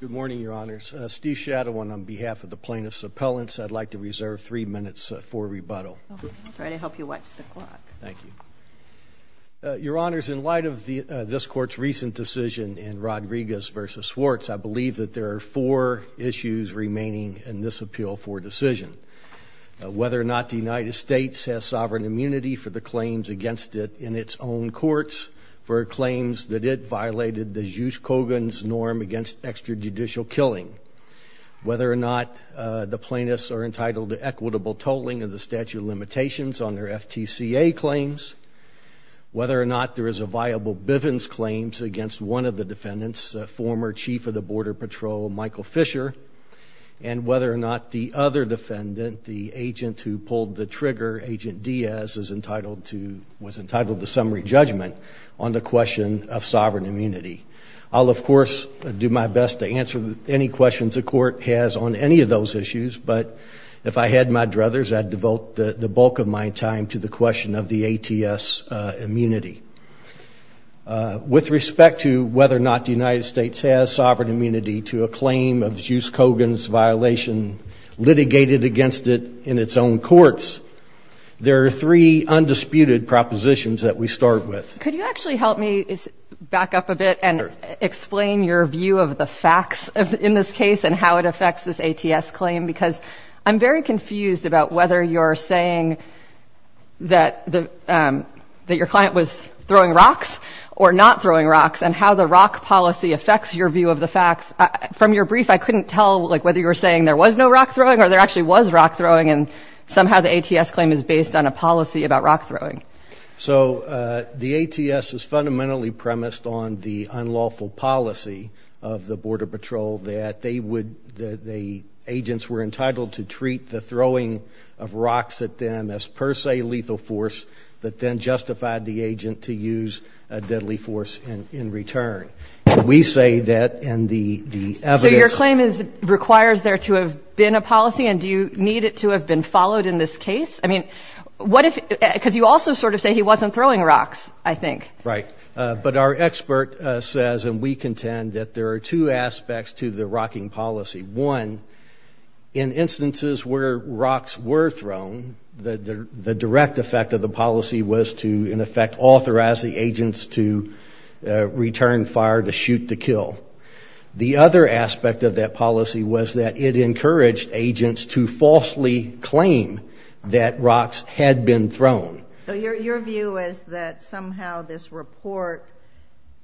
Good morning, Your Honors. Steve Shadowin on behalf of the plaintiff's appellants. I'd like to reserve three minutes for rebuttal. I'll try to help you watch the clock. Thank you. Your Honors, in light of this court's recent decision in Rodriguez v. Swartz, I believe that there are four issues remaining in this appeal for decision. Whether or not the United States has sovereign immunity for the claims against it in its own courts, for claims that it violated the Jus Coghan's norm against extrajudicial killing, whether or not the plaintiffs are entitled to equitable tolling of the statute of limitations on their FTCA claims, whether or not there is a viable Bivens claims against one of the defendants, former Chief of the Border Patrol, Michael Fisher, and whether or not the other defendant, the agent who pulled the trigger, Agent Diaz, was entitled to summary judgment on the question of the ATS immunity. I'll, of course, do my best to answer any questions the court has on any of those issues, but if I had my druthers, I'd devote the bulk of my time to the question of the ATS immunity. With respect to whether or not the United States has sovereign immunity to a claim of Jus Coghan's violation litigated against it in its own courts, there are three undisputed propositions that we start with. Could you actually help me back up a bit and explain your view of the facts in this case and how it affects this ATS claim? Because I'm very confused about whether you're saying that your client was throwing rocks or not throwing rocks, and how the rock policy affects your view of the facts. From your brief, I couldn't tell whether you were saying there was no rock throwing or there actually was rock throwing, and somehow the ATS claim is based on a policy about rock throwing. So the ATS is fundamentally premised on the unlawful policy of the Border Patrol that agents were entitled to treat the throwing of rocks at them as per se lethal force that then justified the agent to use a deadly force in return. We say that in the evidence... So your claim requires there to have been a policy, and do you need it to have been followed in this case? Because you also sort of say he wasn't throwing rocks, I think. Right. But our expert says, and we contend, that there are two aspects to the rocking policy. One, in instances where rocks were thrown, the direct effect of the policy was to, in effect, authorize the agents to return fire to shoot to kill. The other aspect of that policy was that it encouraged agents to falsely claim that rocks had been thrown. So your view is that somehow this report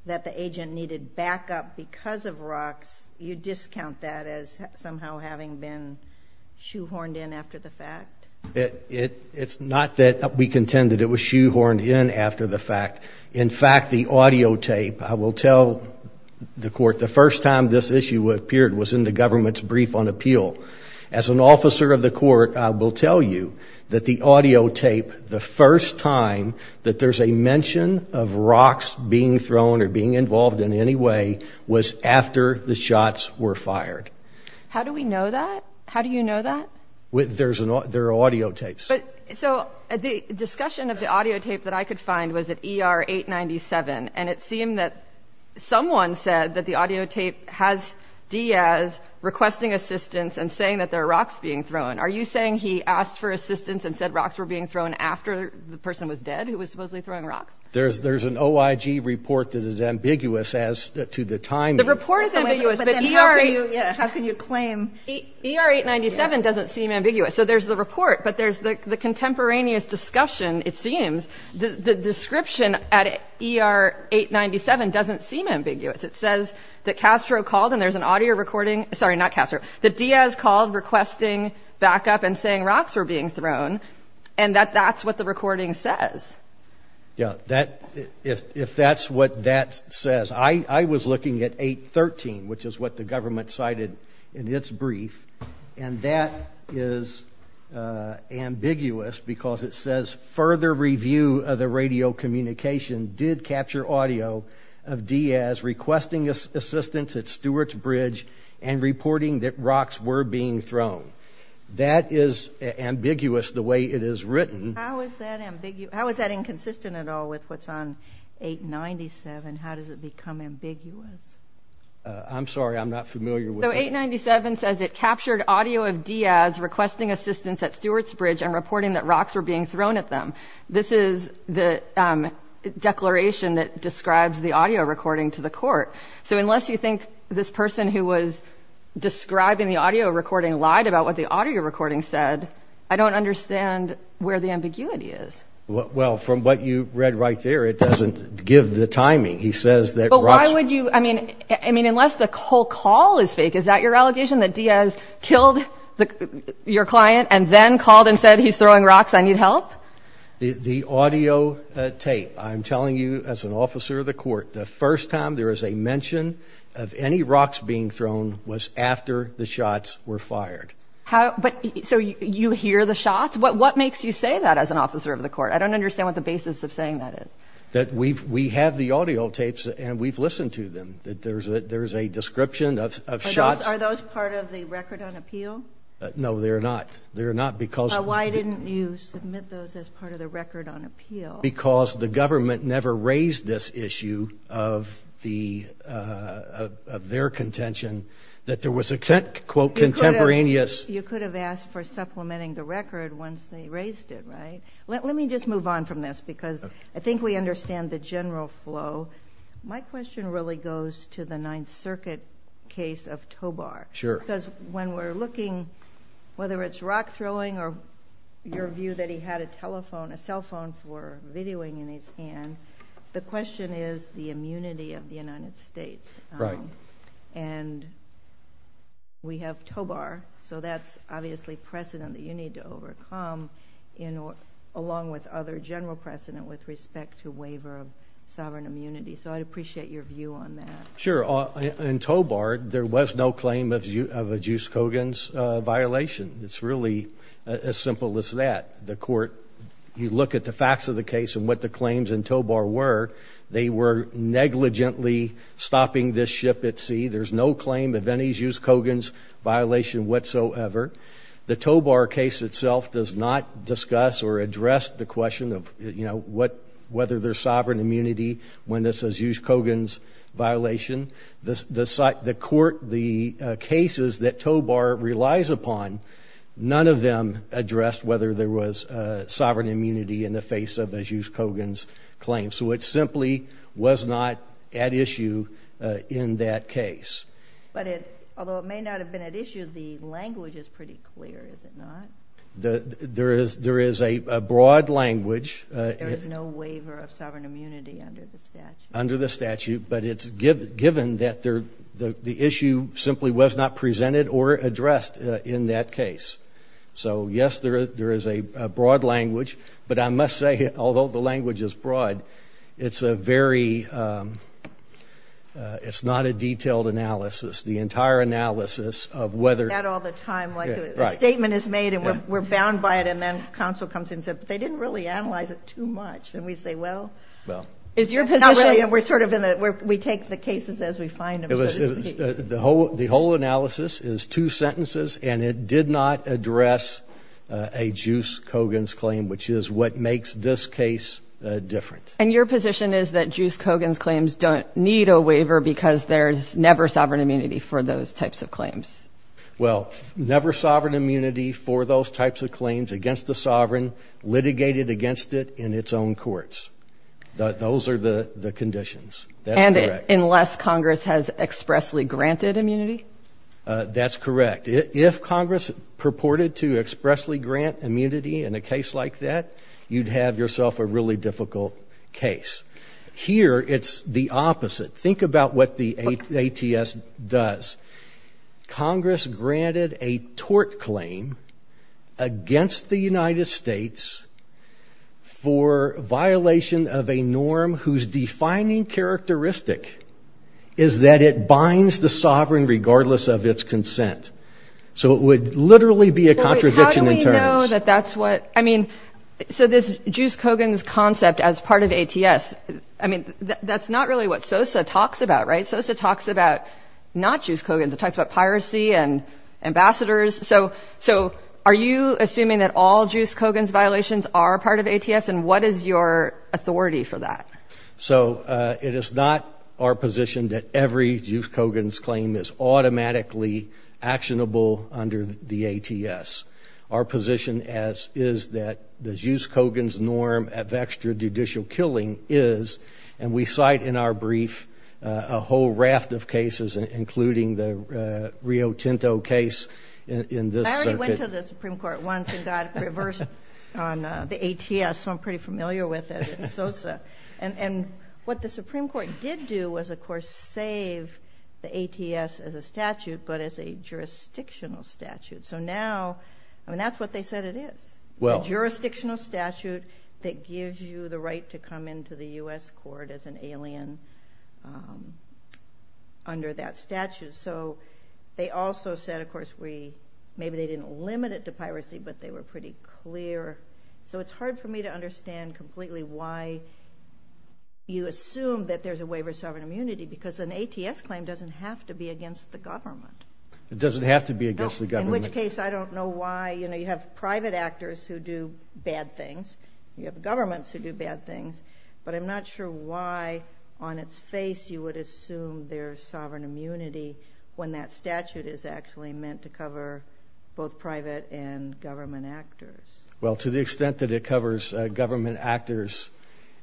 that the agent needed backup because of rocks, you discount that as somehow having been shoehorned in after the fact? It's not that we contend that it was shoehorned in after the fact. In fact, the audio tape, I will tell the court, the first time this issue appeared was in the government's brief on appeal. As an officer of the court, I will tell you that the audio tape, the first time that there's a mention of rocks being thrown or being involved in any way, was after the shots were fired. How do we know that? How do you know that? There are audio tapes. So the discussion of the audio tape that I could find was at ER 897, and it requesting assistance and saying that there are rocks being thrown. Are you saying he asked for assistance and said rocks were being thrown after the person was dead who was supposedly throwing rocks? There's an OIG report that is ambiguous as to the timing. The report is ambiguous, but ER 897 doesn't seem ambiguous. So there's the report, but there's the contemporaneous discussion, it seems. The description at ER 897 doesn't seem ambiguous. It says that Castro called, and there's an audio recording, sorry, not Castro, that Diaz called requesting backup and saying rocks were being thrown, and that that's what the recording says. Yeah, if that's what that says. I was looking at 813, which is what the government cited in its brief, and that is ambiguous because it says further review of the radio communication did capture audio of Diaz requesting assistance at Stewart's Bridge and reporting that rocks were being thrown. That is ambiguous the way it is written. How is that ambiguous? How is that inconsistent at all with what's on 897? How does it become ambiguous? I'm sorry, I'm not familiar with it. So 897 says it captured audio of Diaz requesting assistance at Stewart's Bridge and reporting that rocks were being thrown at them. This is the declaration that describes the audio recording to the court. So unless you think this person who was describing the audio recording lied about what the audio recording said, I don't understand where the ambiguity is. Well, from what you read right there, it doesn't give the timing. He says that... But why would you, I mean, I mean, unless the whole call is fake, is that your allegation that Diaz killed your client and then called and said he's throwing rocks, I need help? The audio tape, I'm telling you as an officer of the court, the first time there is a mention of any rocks being thrown was after the shots were fired. How, but so you hear the shots? What makes you say that as an officer of the court? I don't understand what the basis of saying that is. That we've, we have the audio tapes and we've listened to them. That there's a, there's a description of shots. Are those part of the record on appeal? No, they're not. They're not because... As part of the record on appeal. Because the government never raised this issue of the, of their contention that there was a quote, contemporaneous... You could have asked for supplementing the record once they raised it, right? Let me just move on from this because I think we understand the general flow. My question really goes to the Ninth Circuit case of Tobar. Sure. Because when we're looking, whether it's rock throwing or your view that he had a telephone, a cell phone for videoing in his hand, the question is the immunity of the United States and we have Tobar. So that's obviously precedent that you need to overcome in, along with other general precedent with respect to waiver of sovereign immunity. So I'd appreciate your view on that. Sure. In Tobar, there was no claim of a Juice Kogan's violation. It's really as simple as that. The court, you look at the facts of the case and what the claims in Tobar were, they were negligently stopping this ship at sea. There's no claim of any Juice Kogan's violation whatsoever. The Tobar case itself does not discuss or address the question of, you know, what, whether there's sovereign immunity when this is a Juice Kogan's violation. The court, the cases that Tobar relies upon, none of them addressed whether there was a sovereign immunity in the face of a Juice Kogan's claim. So it simply was not at issue in that case. But it, although it may not have been at issue, the language is pretty clear. Is it not? The, there is, there is a broad language. There is no waiver of sovereign immunity under the statute. Under the statute, but it's given that there, the issue simply was not presented or addressed in that case. So yes, there is, there is a broad language, but I must say, although the language is broad, it's a very, it's not a detailed analysis. The entire analysis of whether. That all the time. Like the statement is made and we're bound by it. And then counsel comes in and said, but they didn't really analyze it too much. And we say, well, it's not really, and we're sort of in the, where we take the cases as we find them. It was the whole, the whole analysis is two sentences and it did not address a Juice Kogan's claim, which is what makes this case different. And your position is that Juice Kogan's claims don't need a waiver because there's never sovereign immunity for those types of claims. Well, never sovereign immunity for those types of claims against the sovereign litigated against it in its own courts, those are the conditions. That's correct. Unless Congress has expressly granted immunity. That's correct. If Congress purported to expressly grant immunity in a case like that, you'd have yourself a really difficult case here. It's the opposite. Think about what the ATS does. Congress granted a tort claim against the United States for violation of a norm whose defining characteristic is that it binds the sovereign regardless of its consent. So it would literally be a contradiction in terms. How do we know that that's what, I mean, so this Juice Kogan's concept as part of ATS, I mean, that's not really what SOSA talks about, right? SOSA talks about not Juice Kogan's, it talks about piracy and ambassadors. So, so are you assuming that all Juice Kogan's violations are part of ATS and what is your authority for that? So it is not our position that every Juice Kogan's claim is automatically actionable under the ATS. Our position is that the Juice Kogan's norm of extrajudicial killing is, and we cite in our brief, a whole raft of cases, including the Rio Tinto case in this circuit. I already went to the Supreme Court once and got reversed on the ATS, so I'm And what the Supreme Court did do was, of course, save the ATS as a statute, but as a jurisdictional statute. So now, I mean, that's what they said it is, a jurisdictional statute that gives you the right to come into the U.S. court as an alien under that statute. So they also said, of course, we, maybe they didn't limit it to piracy, but they were pretty clear. So it's hard for me to understand completely why you assume that there's a waiver of sovereign immunity, because an ATS claim doesn't have to be against the government. It doesn't have to be against the government. In which case, I don't know why, you know, you have private actors who do bad things, you have governments who do bad things, but I'm not sure why on its face you would assume there's sovereign immunity when that statute is actually meant to cover both private and government actors. Well, to the extent that it covers government actors,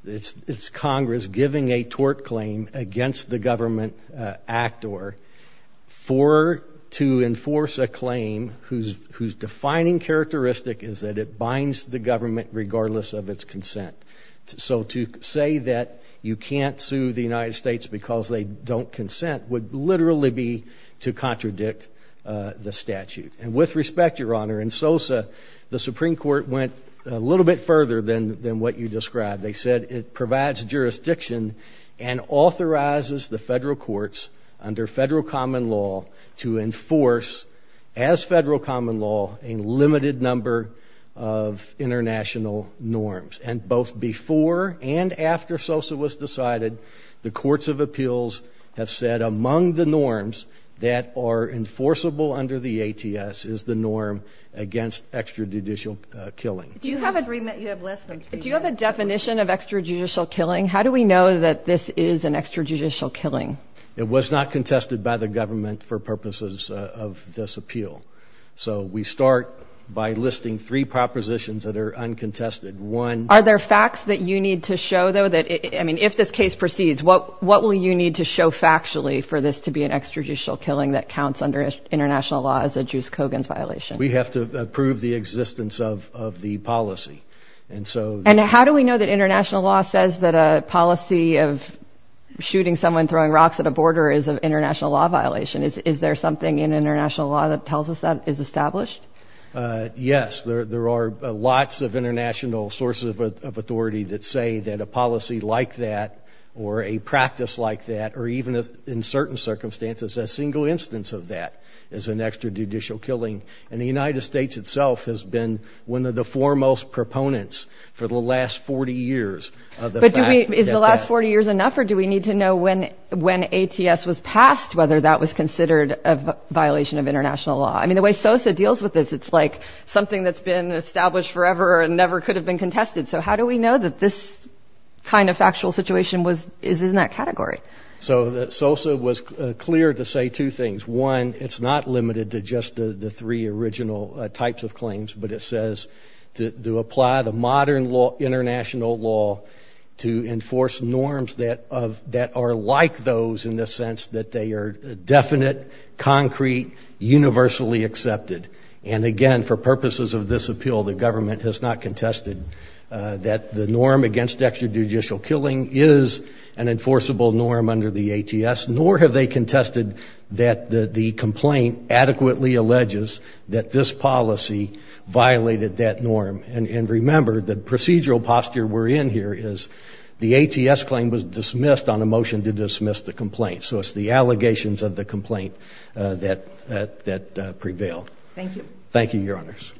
it's Congress giving a tort claim against the government actor to enforce a claim whose defining characteristic is that it binds the government regardless of its consent. So to say that you can't sue the United States because they don't consent would literally be to contradict the statute. And with respect, Your Honor, in SOSA, the Supreme Court went a little bit further than what you described. They said it provides jurisdiction and authorizes the federal courts under federal common law to enforce, as federal common law, a limited number of international norms. And both before and after SOSA was decided, the courts of appeals have said that the rule under the ATS is the norm against extrajudicial killing. Do you have a definition of extrajudicial killing? How do we know that this is an extrajudicial killing? It was not contested by the government for purposes of this appeal. So we start by listing three propositions that are uncontested. One. Are there facts that you need to show, though, that, I mean, if this case proceeds, what will you need to show factually for this to be an international law as a Juice Kogan's violation? We have to prove the existence of the policy. And so... And how do we know that international law says that a policy of shooting someone, throwing rocks at a border is an international law violation? Is there something in international law that tells us that is established? Yes. There are lots of international sources of authority that say that a policy like that or a practice like that, or even in certain circumstances, a single instance of that is an extrajudicial killing. And the United States itself has been one of the foremost proponents for the last 40 years of the fact that that... But is the last 40 years enough or do we need to know when ATS was passed, whether that was considered a violation of international law? I mean, the way SOSA deals with this, it's like something that's been established forever and never could have been contested. So how do we know that this kind of factual situation is in that category? So SOSA was clear to say two things. One, it's not limited to just the three original types of claims, but it says to apply the modern law, international law, to enforce norms that are like those in the sense that they are definite, concrete, universally accepted. And again, for purposes of this appeal, the government has not contested that the norm against extrajudicial killing is an enforceable norm under the ATS, nor have they contested that the complaint adequately alleges that this policy violated that norm. And remember the procedural posture we're in here is the ATS claim was dismissed on a motion to dismiss the complaint. So it's the allegations of the complaint that prevailed. Thank you. Thank you, Your Honors.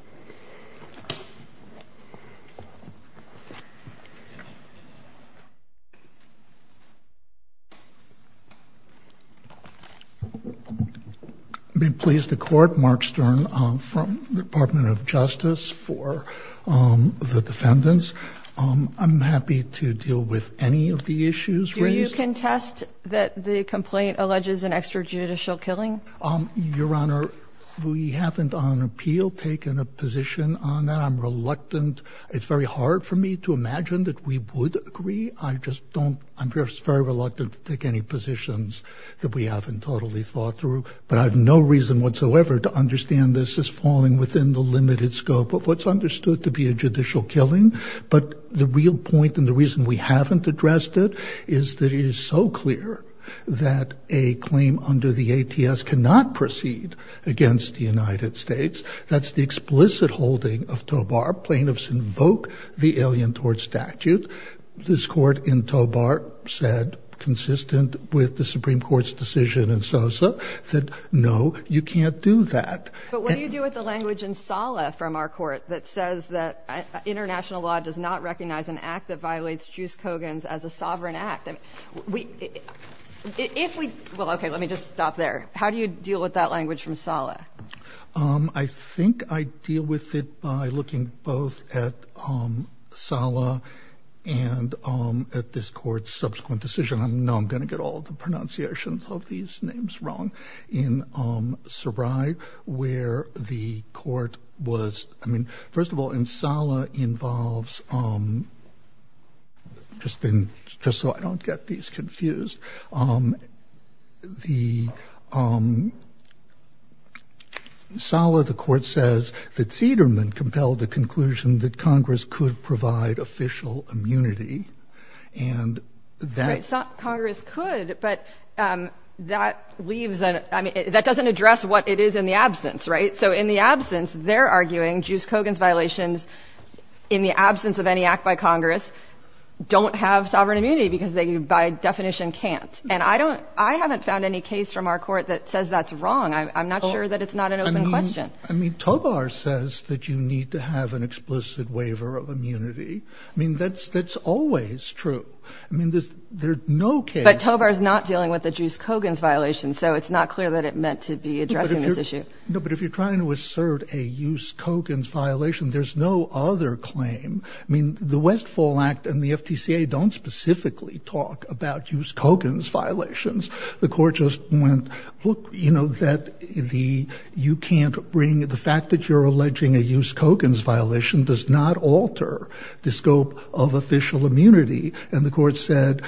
I'm being pleased to court Mark Stern from the Department of Justice for the defendants. I'm happy to deal with any of the issues raised. Do you contest that the complaint alleges an extrajudicial killing? Your Honor, we haven't on appeal taken a position on that. I'm reluctant. It's very hard for me to imagine that we would agree. I just don't, I'm just very reluctant to take any positions that we haven't totally thought through, but I have no reason whatsoever to understand this as falling within the limited scope of what's understood to be a judicial killing. But the real point and the reason we haven't addressed it is that it is so clear that a claim under the ATS cannot proceed against the United States. That's the explicit holding of Tobar plaintiffs invoke the alien towards statute, this court in Tobar said, consistent with the Supreme Court's decision and Sosa said, no, you can't do that. But what do you do with the language in Sala from our court that says that international law does not recognize an act that violates juice Kogan's as a sovereign act? And we, if we, well, okay, let me just stop there. How do you deal with that language from Sala? Um, I think I deal with it by looking both at, um, Sala and, um, at this court's subsequent decision on, no, I'm going to get all the pronunciations of these names wrong in, um, survive where the court was. I mean, first of all, in Sala involves, um, just been just so I don't get these confused. Um, the, um, Sala, the court says that Cederman compelled the conclusion that Congress could provide official immunity and that Congress could, but, um, that leaves an, I mean, that doesn't address what it is in the absence, right? So in the absence, they're arguing juice Kogan's violations in the absence of any act by Congress don't have sovereign immunity because they, by definition can't. And I don't, I haven't found any case from our court that says that's wrong. I'm not sure that it's not an open question. I mean, Tobar says that you need to have an explicit waiver of immunity. I mean, that's, that's always true. I mean, there's, there's no case. Tobar is not dealing with the juice Kogan's violation. So it's not clear that it meant to be addressing this issue. No, but if you're trying to assert a use Kogan's violation, there's no other claim. I mean, the Westfall act and the FTCA don't specifically talk about use Kogan's violations. The court just went, look, you know, that the, you can't bring the fact that you're alleging a use Kogan's violation does not alter the scope of official immunity. And the court said,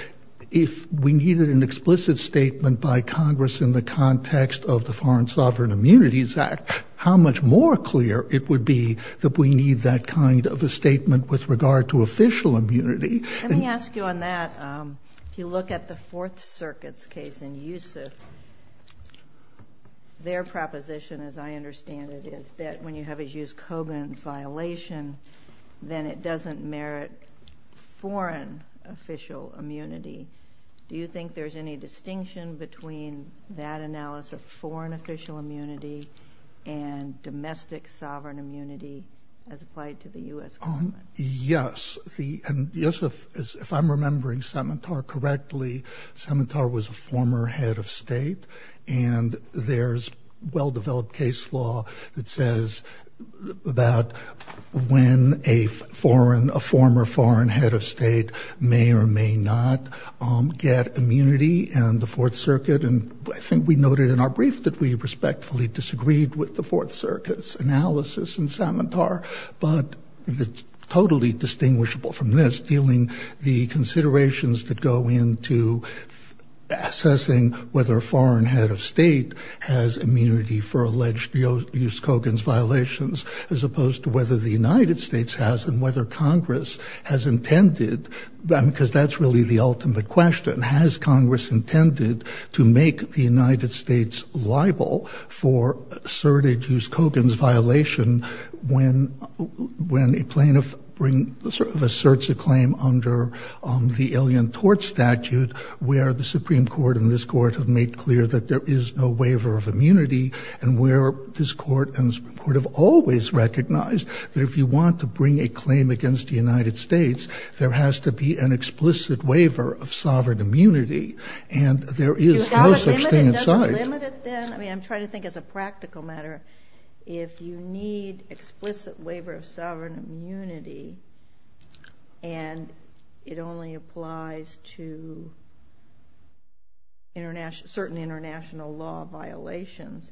if we needed an explicit statement by Congress in the context of the foreign sovereign immunities act, how much more clear it would be that we need that kind of a statement with regard to official immunity. Let me ask you on that. Um, if you look at the fourth circuits case and use of their proposition, as I understand it, is that when you have a use Kogan's violation, then it doesn't merit foreign official immunity. Do you think there's any distinction between that analysis of foreign official immunity and domestic sovereign immunity as applied to the U S yes. The, and Joseph, if I'm remembering cemetery correctly, cemetery was a former head of state and there's well-developed case law that says about when a foreign, a former foreign head of state may or may not, um, get immunity and the fourth fully disagreed with the fourth circus analysis and Samatar, but it's totally distinguishable from this dealing the considerations that go into assessing whether a foreign head of state has immunity for alleged use Kogan's violations, as opposed to whether the United States has and whether Congress has intended them, because that's really the ultimate question. Has Congress intended to make the United States libel for certitude Kogan's violation when, when a plaintiff bring sort of asserts a claim under, um, the alien tort statute where the Supreme court and this court have made clear that there is no waiver of immunity and where this court and court have always recognized that if you want to bring a claim against the United States, there has to be an explicit waiver of sovereign immunity and there is no such thing. I mean, I'm trying to think as a practical matter, if you need explicit waiver of sovereign immunity and it only applies to international, certain international law violations,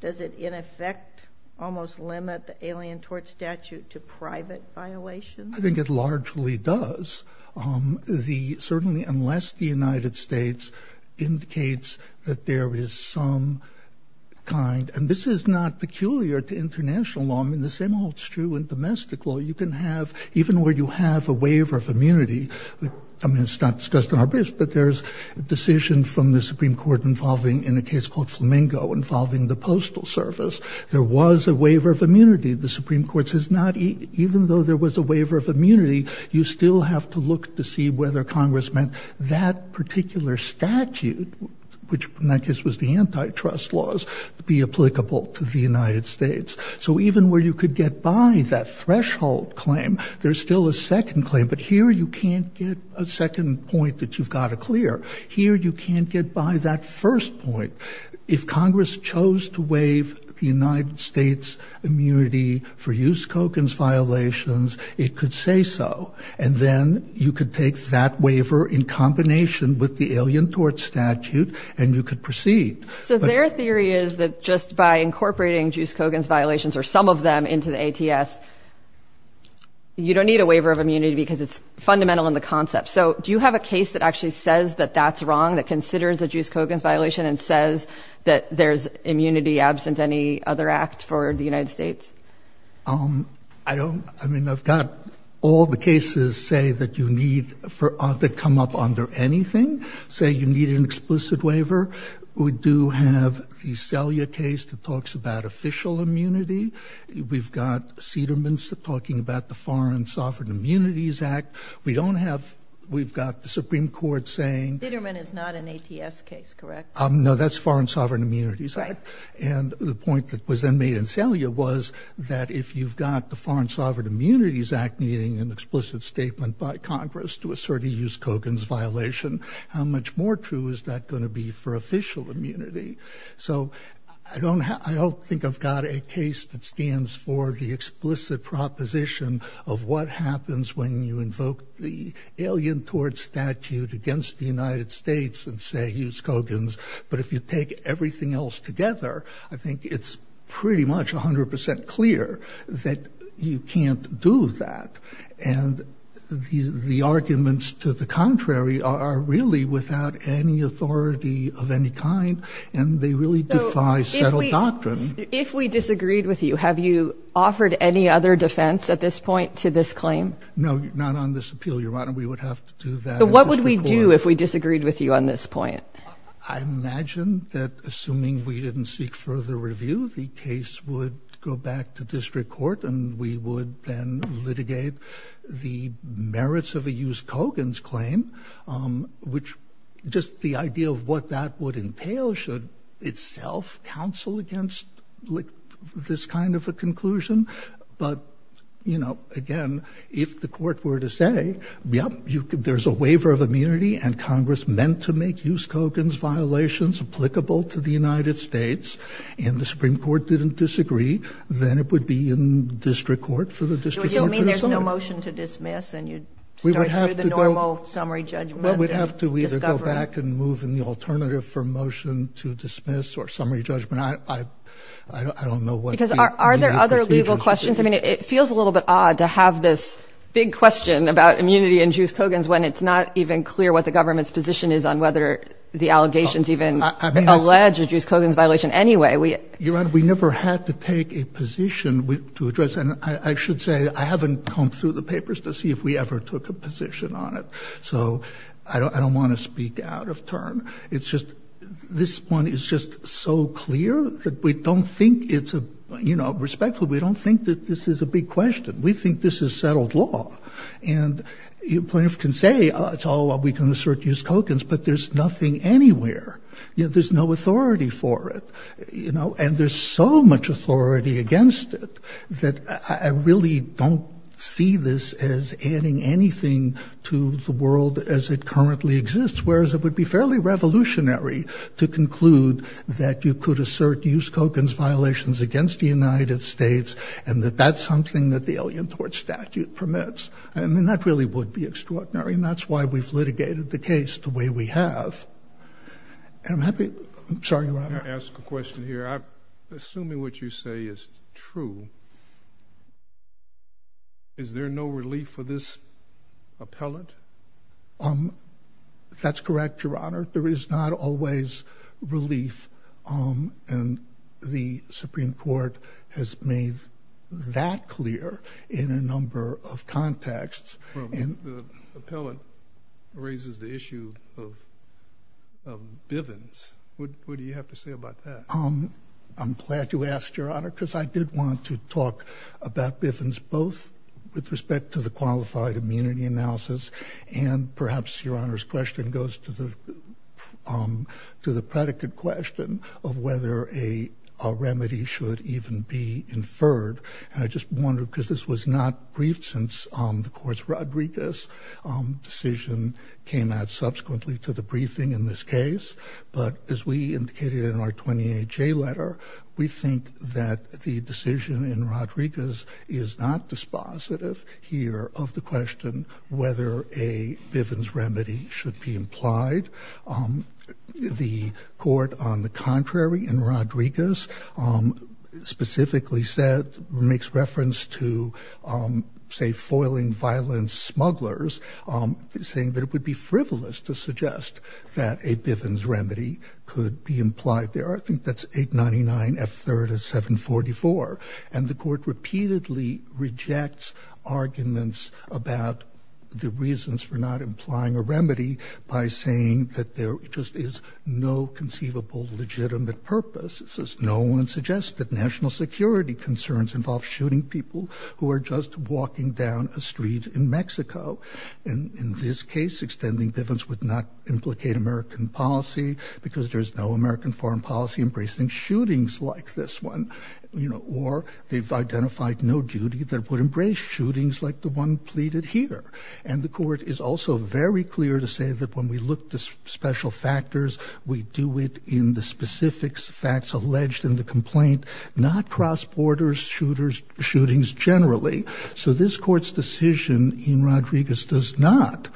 does it in effect almost limit the alien tort statute to private violations? I think it largely does. Um, the certainly, unless the United States indicates that there is some kind, and this is not peculiar to international law, I mean, the same holds true in domestic law, you can have, even where you have a waiver of immunity, I mean, it's not discussed in our briefs, but there's a decision from the Supreme court involving in a case called Flamingo involving the postal service. There was a waiver of immunity. The Supreme court says not even though there was a waiver of immunity, you still have to look to see whether Congress meant that particular statute, which in that case was the antitrust laws to be applicable to the United States. So even where you could get by that threshold claim, there's still a second claim, but here you can't get a second point that you've got to clear here. You can't get by that first point. If Congress chose to waive the United States immunity for use Kogan's violations, it could say so. And then you could take that waiver in combination with the alien tort statute and you could proceed. So their theory is that just by incorporating juice Kogan's violations or some of them into the ATS, you don't need a waiver of immunity because it's fundamental in the concept. So do you have a case that actually says that that's wrong, that considers a juice Kogan's violation and says that there's immunity absent any other act for the United States? Um, I don't, I mean, I've got all the cases say that you need for, to come up under anything, say you need an explicit waiver. We do have the Celia case that talks about official immunity. We've got Cedermans talking about the foreign sovereign immunities act. We don't have, we've got the Supreme court saying. Cederman is not an ATS case, correct? Um, no, that's foreign sovereign immunities. And the point that was then made in Celia was that if you've got the foreign sovereign immunities act meeting an explicit statement by Congress to assert a use Kogan's violation, how much more true is that going to be for official immunity? So I don't, I don't think I've got a case that stands for the explicit proposition of what happens when you invoke the alien tort statute against the United States and say, use Kogan's. But if you take everything else together, I think it's pretty much a hundred percent clear that you can't do that. And the arguments to the contrary are really without any authority of any kind. And they really defy settled doctrine. If we disagreed with you, have you offered any other defense at this point to this claim? No, not on this appeal. Your Honor, we would have to do that. What would we do if we disagreed with you on this point? I imagine that assuming we didn't seek further review, the case would go back to district court and we would then litigate the merits of a use Kogan's claim, um, which just the idea of what that would entail should itself counsel against this kind of a conclusion. But, you know, again, if the court were to say, yep, you can, there's a waiver of immunity and Congress meant to make use Kogan's violations applicable to the United States and the Supreme Court didn't disagree, then it would be in district court for the district court to decide. So you don't mean there's no motion to dismiss and you'd start through the normal summary judgment of discovery? Well, we'd have to either go back and move in the alternative for motion to dismiss or summary judgment. I, I, I don't know what the... Because are, are there other legal questions? I mean, it feels a little bit odd to have this big question about immunity and use Kogan's when it's not even clear what the government's position is on whether the allegations even alleged use Kogan's violation anyway. We never had to take a position to address. And I should say, I haven't come through the papers to see if we ever took a position on it. So I don't, I don't want to speak out of turn. It's just, this one is just so clear that we don't think it's a, you know, respectfully, we don't think that this is a big question. We think this is settled law and plaintiff can say it's all we can assert use Kogan's, but there's nothing anywhere. You know, there's no authority for it, you know, and there's so much authority against it that I really don't see this as adding anything to the world as it is revolutionary to conclude that you could assert use Kogan's violations against the United States and that that's something that the Alien Tort statute permits. I mean, that really would be extraordinary. And that's why we've litigated the case the way we have. And I'm happy. I'm sorry, Your Honor. Ask a question here. I'm assuming what you say is true. Is there no relief for this appellant? Um, that's correct, Your Honor. There is not always relief. Um, and the Supreme Court has made that clear in a number of contexts. And the appellant raises the issue of Bivens. What do you have to say about that? Um, I'm glad you asked your honor, because I did want to talk about Bivens both with respect to the qualified immunity analysis and perhaps your question goes to the, um, to the predicate question of whether a, a remedy should even be inferred. And I just wonder, cause this was not briefed since, um, the courts Rodriguez, um, decision came out subsequently to the briefing in this case, but as we indicated in our 28 J letter, we think that the decision in Rodriguez is not dispositive here of the question, whether a Bivens remedy should be implied, um, the court on the contrary in Rodriguez, um, specifically said, makes reference to, um, say foiling violence smugglers, um, saying that it would be frivolous to suggest that a Bivens remedy could be implied there. I think that's eight 99 F third is seven 44. And the court repeatedly rejects arguments about the reasons for not implying a remedy by saying that there just is no conceivable legitimate purpose. It says, no one suggested national security concerns involve shooting people who are just walking down a street in Mexico. And in this case, extending Bivens would not implicate American policy because there's no American foreign policy embracing shootings like this one, you know, or they've identified no duty that would embrace shootings like the one pleaded here. And the court is also very clear to say that when we look to special factors, we do it in the specifics facts alleged in the complaint, not cross borders, shooters, shootings generally. So this court's decision in Rodriguez does not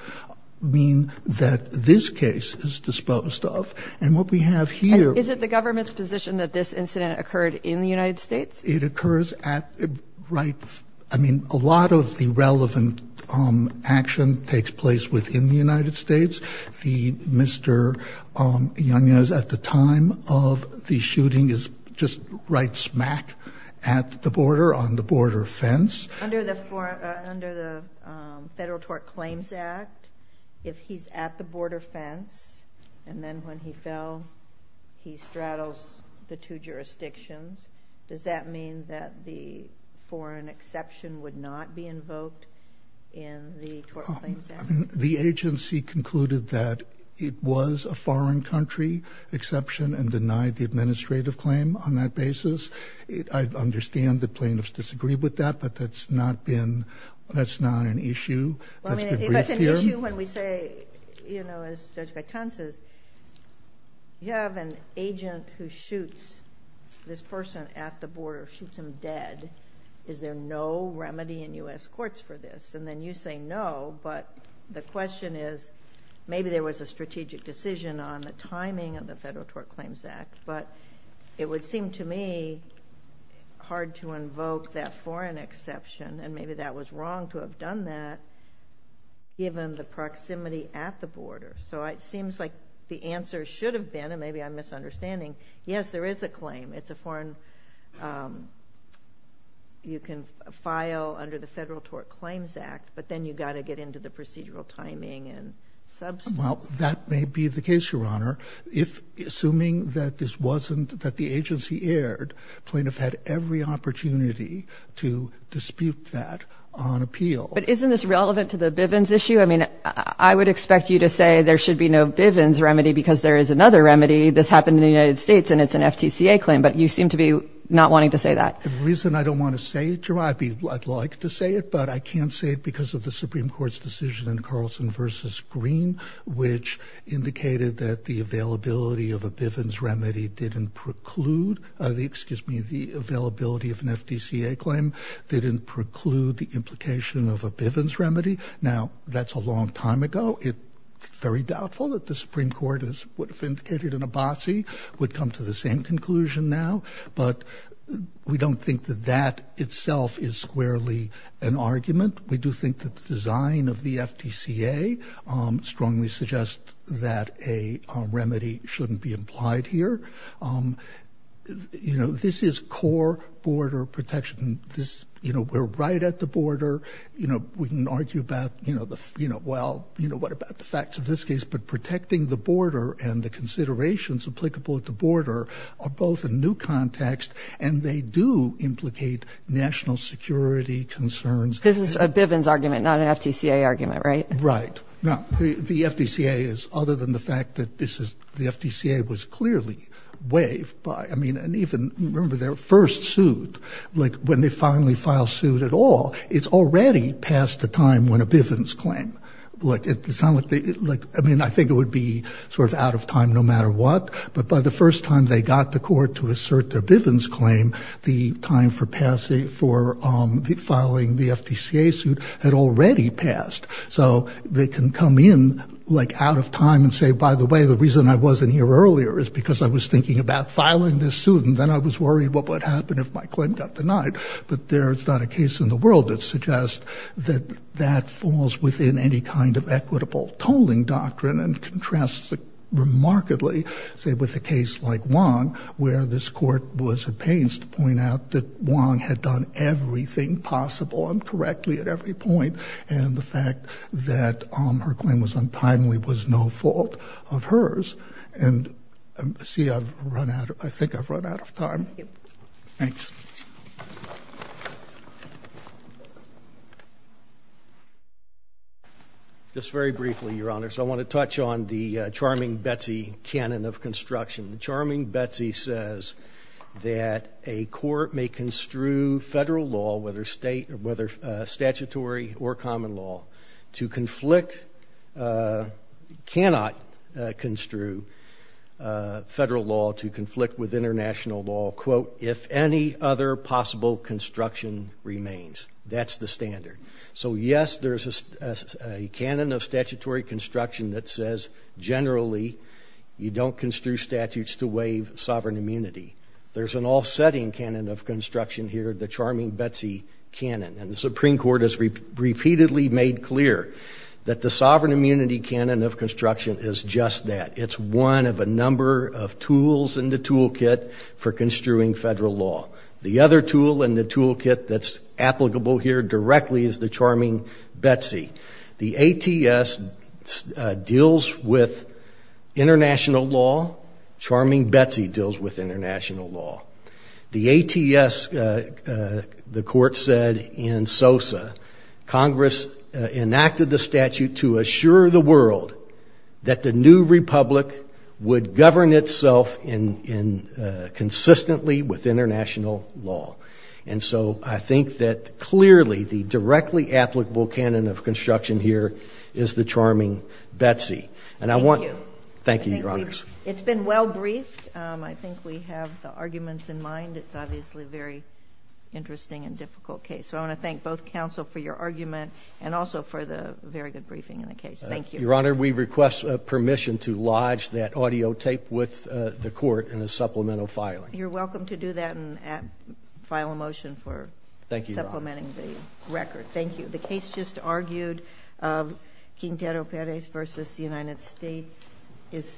mean that this case is disposed of and what we have here, is it the government's position that this incident occurred in the United States? It occurs at right. I mean, a lot of the relevant action takes place within the United States. The Mr. Young is at the time of the shooting is just right smack at the border on the border fence. Under the federal tort claims act, if he's at the border fence and then when he fell, he straddles the two jurisdictions. Does that mean that the foreign exception would not be invoked in the tort claims? The agency concluded that it was a foreign country exception and denied the administrative claim on that basis. I understand the plaintiffs disagree with that, but that's not been, that's not an issue. That's been briefed here. If it's an issue when we say, you know, as Judge Gaitan says, you have an agent who is a person at the border, shoots him dead. Is there no remedy in US courts for this? And then you say no, but the question is, maybe there was a strategic decision on the timing of the federal tort claims act, but it would seem to me hard to invoke that foreign exception and maybe that was wrong to have done that given the proximity at the border, so it seems like the answer should have been, and maybe I'm misunderstanding, yes, there is a claim. It's a foreign, you can file under the federal tort claims act, but then you've got to get into the procedural timing and substance. Well, that may be the case, Your Honor. If, assuming that this wasn't, that the agency aired, plaintiff had every opportunity to dispute that on appeal. But isn't this relevant to the Bivens issue? I mean, I would expect you to say there should be no Bivens remedy because there is another remedy, this happened in the United States and it's an FTCA claim. But you seem to be not wanting to say that. The reason I don't want to say it, Jemima, I'd like to say it, but I can't say it because of the Supreme Court's decision in Carlson versus Green, which indicated that the availability of a Bivens remedy didn't preclude the, excuse me, the availability of an FTCA claim didn't preclude the implication of a Bivens remedy. Now that's a long time ago. It's very doubtful that the Supreme Court would have indicated an Abbasi would come to the same conclusion now, but we don't think that that itself is squarely an argument. We do think that the design of the FTCA strongly suggests that a remedy shouldn't be implied here. You know, this is core border protection. This, you know, we're right at the border. You know, we can argue about, you know, the, you know, well, you know, what about the facts of this case, but protecting the border and the considerations applicable at the border are both a new context and they do implicate national security concerns. This is a Bivens argument, not an FTCA argument, right? Right. Now the FTCA is, other than the fact that this is, the FTCA was clearly waived by, I mean, and even remember their first suit, like when they finally filed suit at all, it's already past the time when a Bivens claim, like it sounded like, like, I mean, I think it would be sort of out of time no matter what, but by the first time they got the court to assert their Bivens claim, the time for passing, for filing the FTCA suit had already passed. So they can come in like out of time and say, by the way, the reason I wasn't here earlier is because I was thinking about filing this suit and then I was worried what would happen if my claim got denied, but there's not a case in the world that suggests that that falls within any kind of equitable tolling doctrine and contrasts it remarkably, say, with a case like Wong, where this court was at pains to point out that Wong had done everything possible and correctly at every point, and the fact that her claim was untimely was no fault of hers, and see, I've run out, I think I've run out of time. Thanks. Just very briefly, Your Honor, so I want to touch on the Charming Betsy canon of construction. The Charming Betsy says that a court may construe federal law, whether state or whether statutory or common law, to conflict, cannot construe federal law to conflict with international law, quote, if any other possible construction remains. That's the standard. So yes, there's a canon of statutory construction that says, generally, you don't construe statutes to waive sovereign immunity. There's an offsetting canon of construction here, the Charming Betsy canon, and the Supreme Court has repeatedly made clear that the sovereign immunity canon of construction is just that. It's one of a number of tools in the toolkit for construing federal law. The other tool in the toolkit that's applicable here directly is the Charming Betsy. The ATS deals with international law. Charming Betsy deals with international law. The ATS, the court said in Sosa, Congress enacted the statute to assure the world that the new republic would govern itself consistently with international law. And so I think that clearly the directly applicable canon of construction here is the Charming Betsy. Thank you, Your Honors. It's been well briefed. I think we have the arguments in mind. It's obviously a very interesting and difficult case. So I want to thank both counsel for your argument and also for the very good briefing in the case. Thank you. Your Honor, we request permission to lodge that audio tape with the court in a supplemental filing. You're welcome to do that and file a motion for supplementing the record. Thank you. The case just argued of Quintero Perez versus the United States is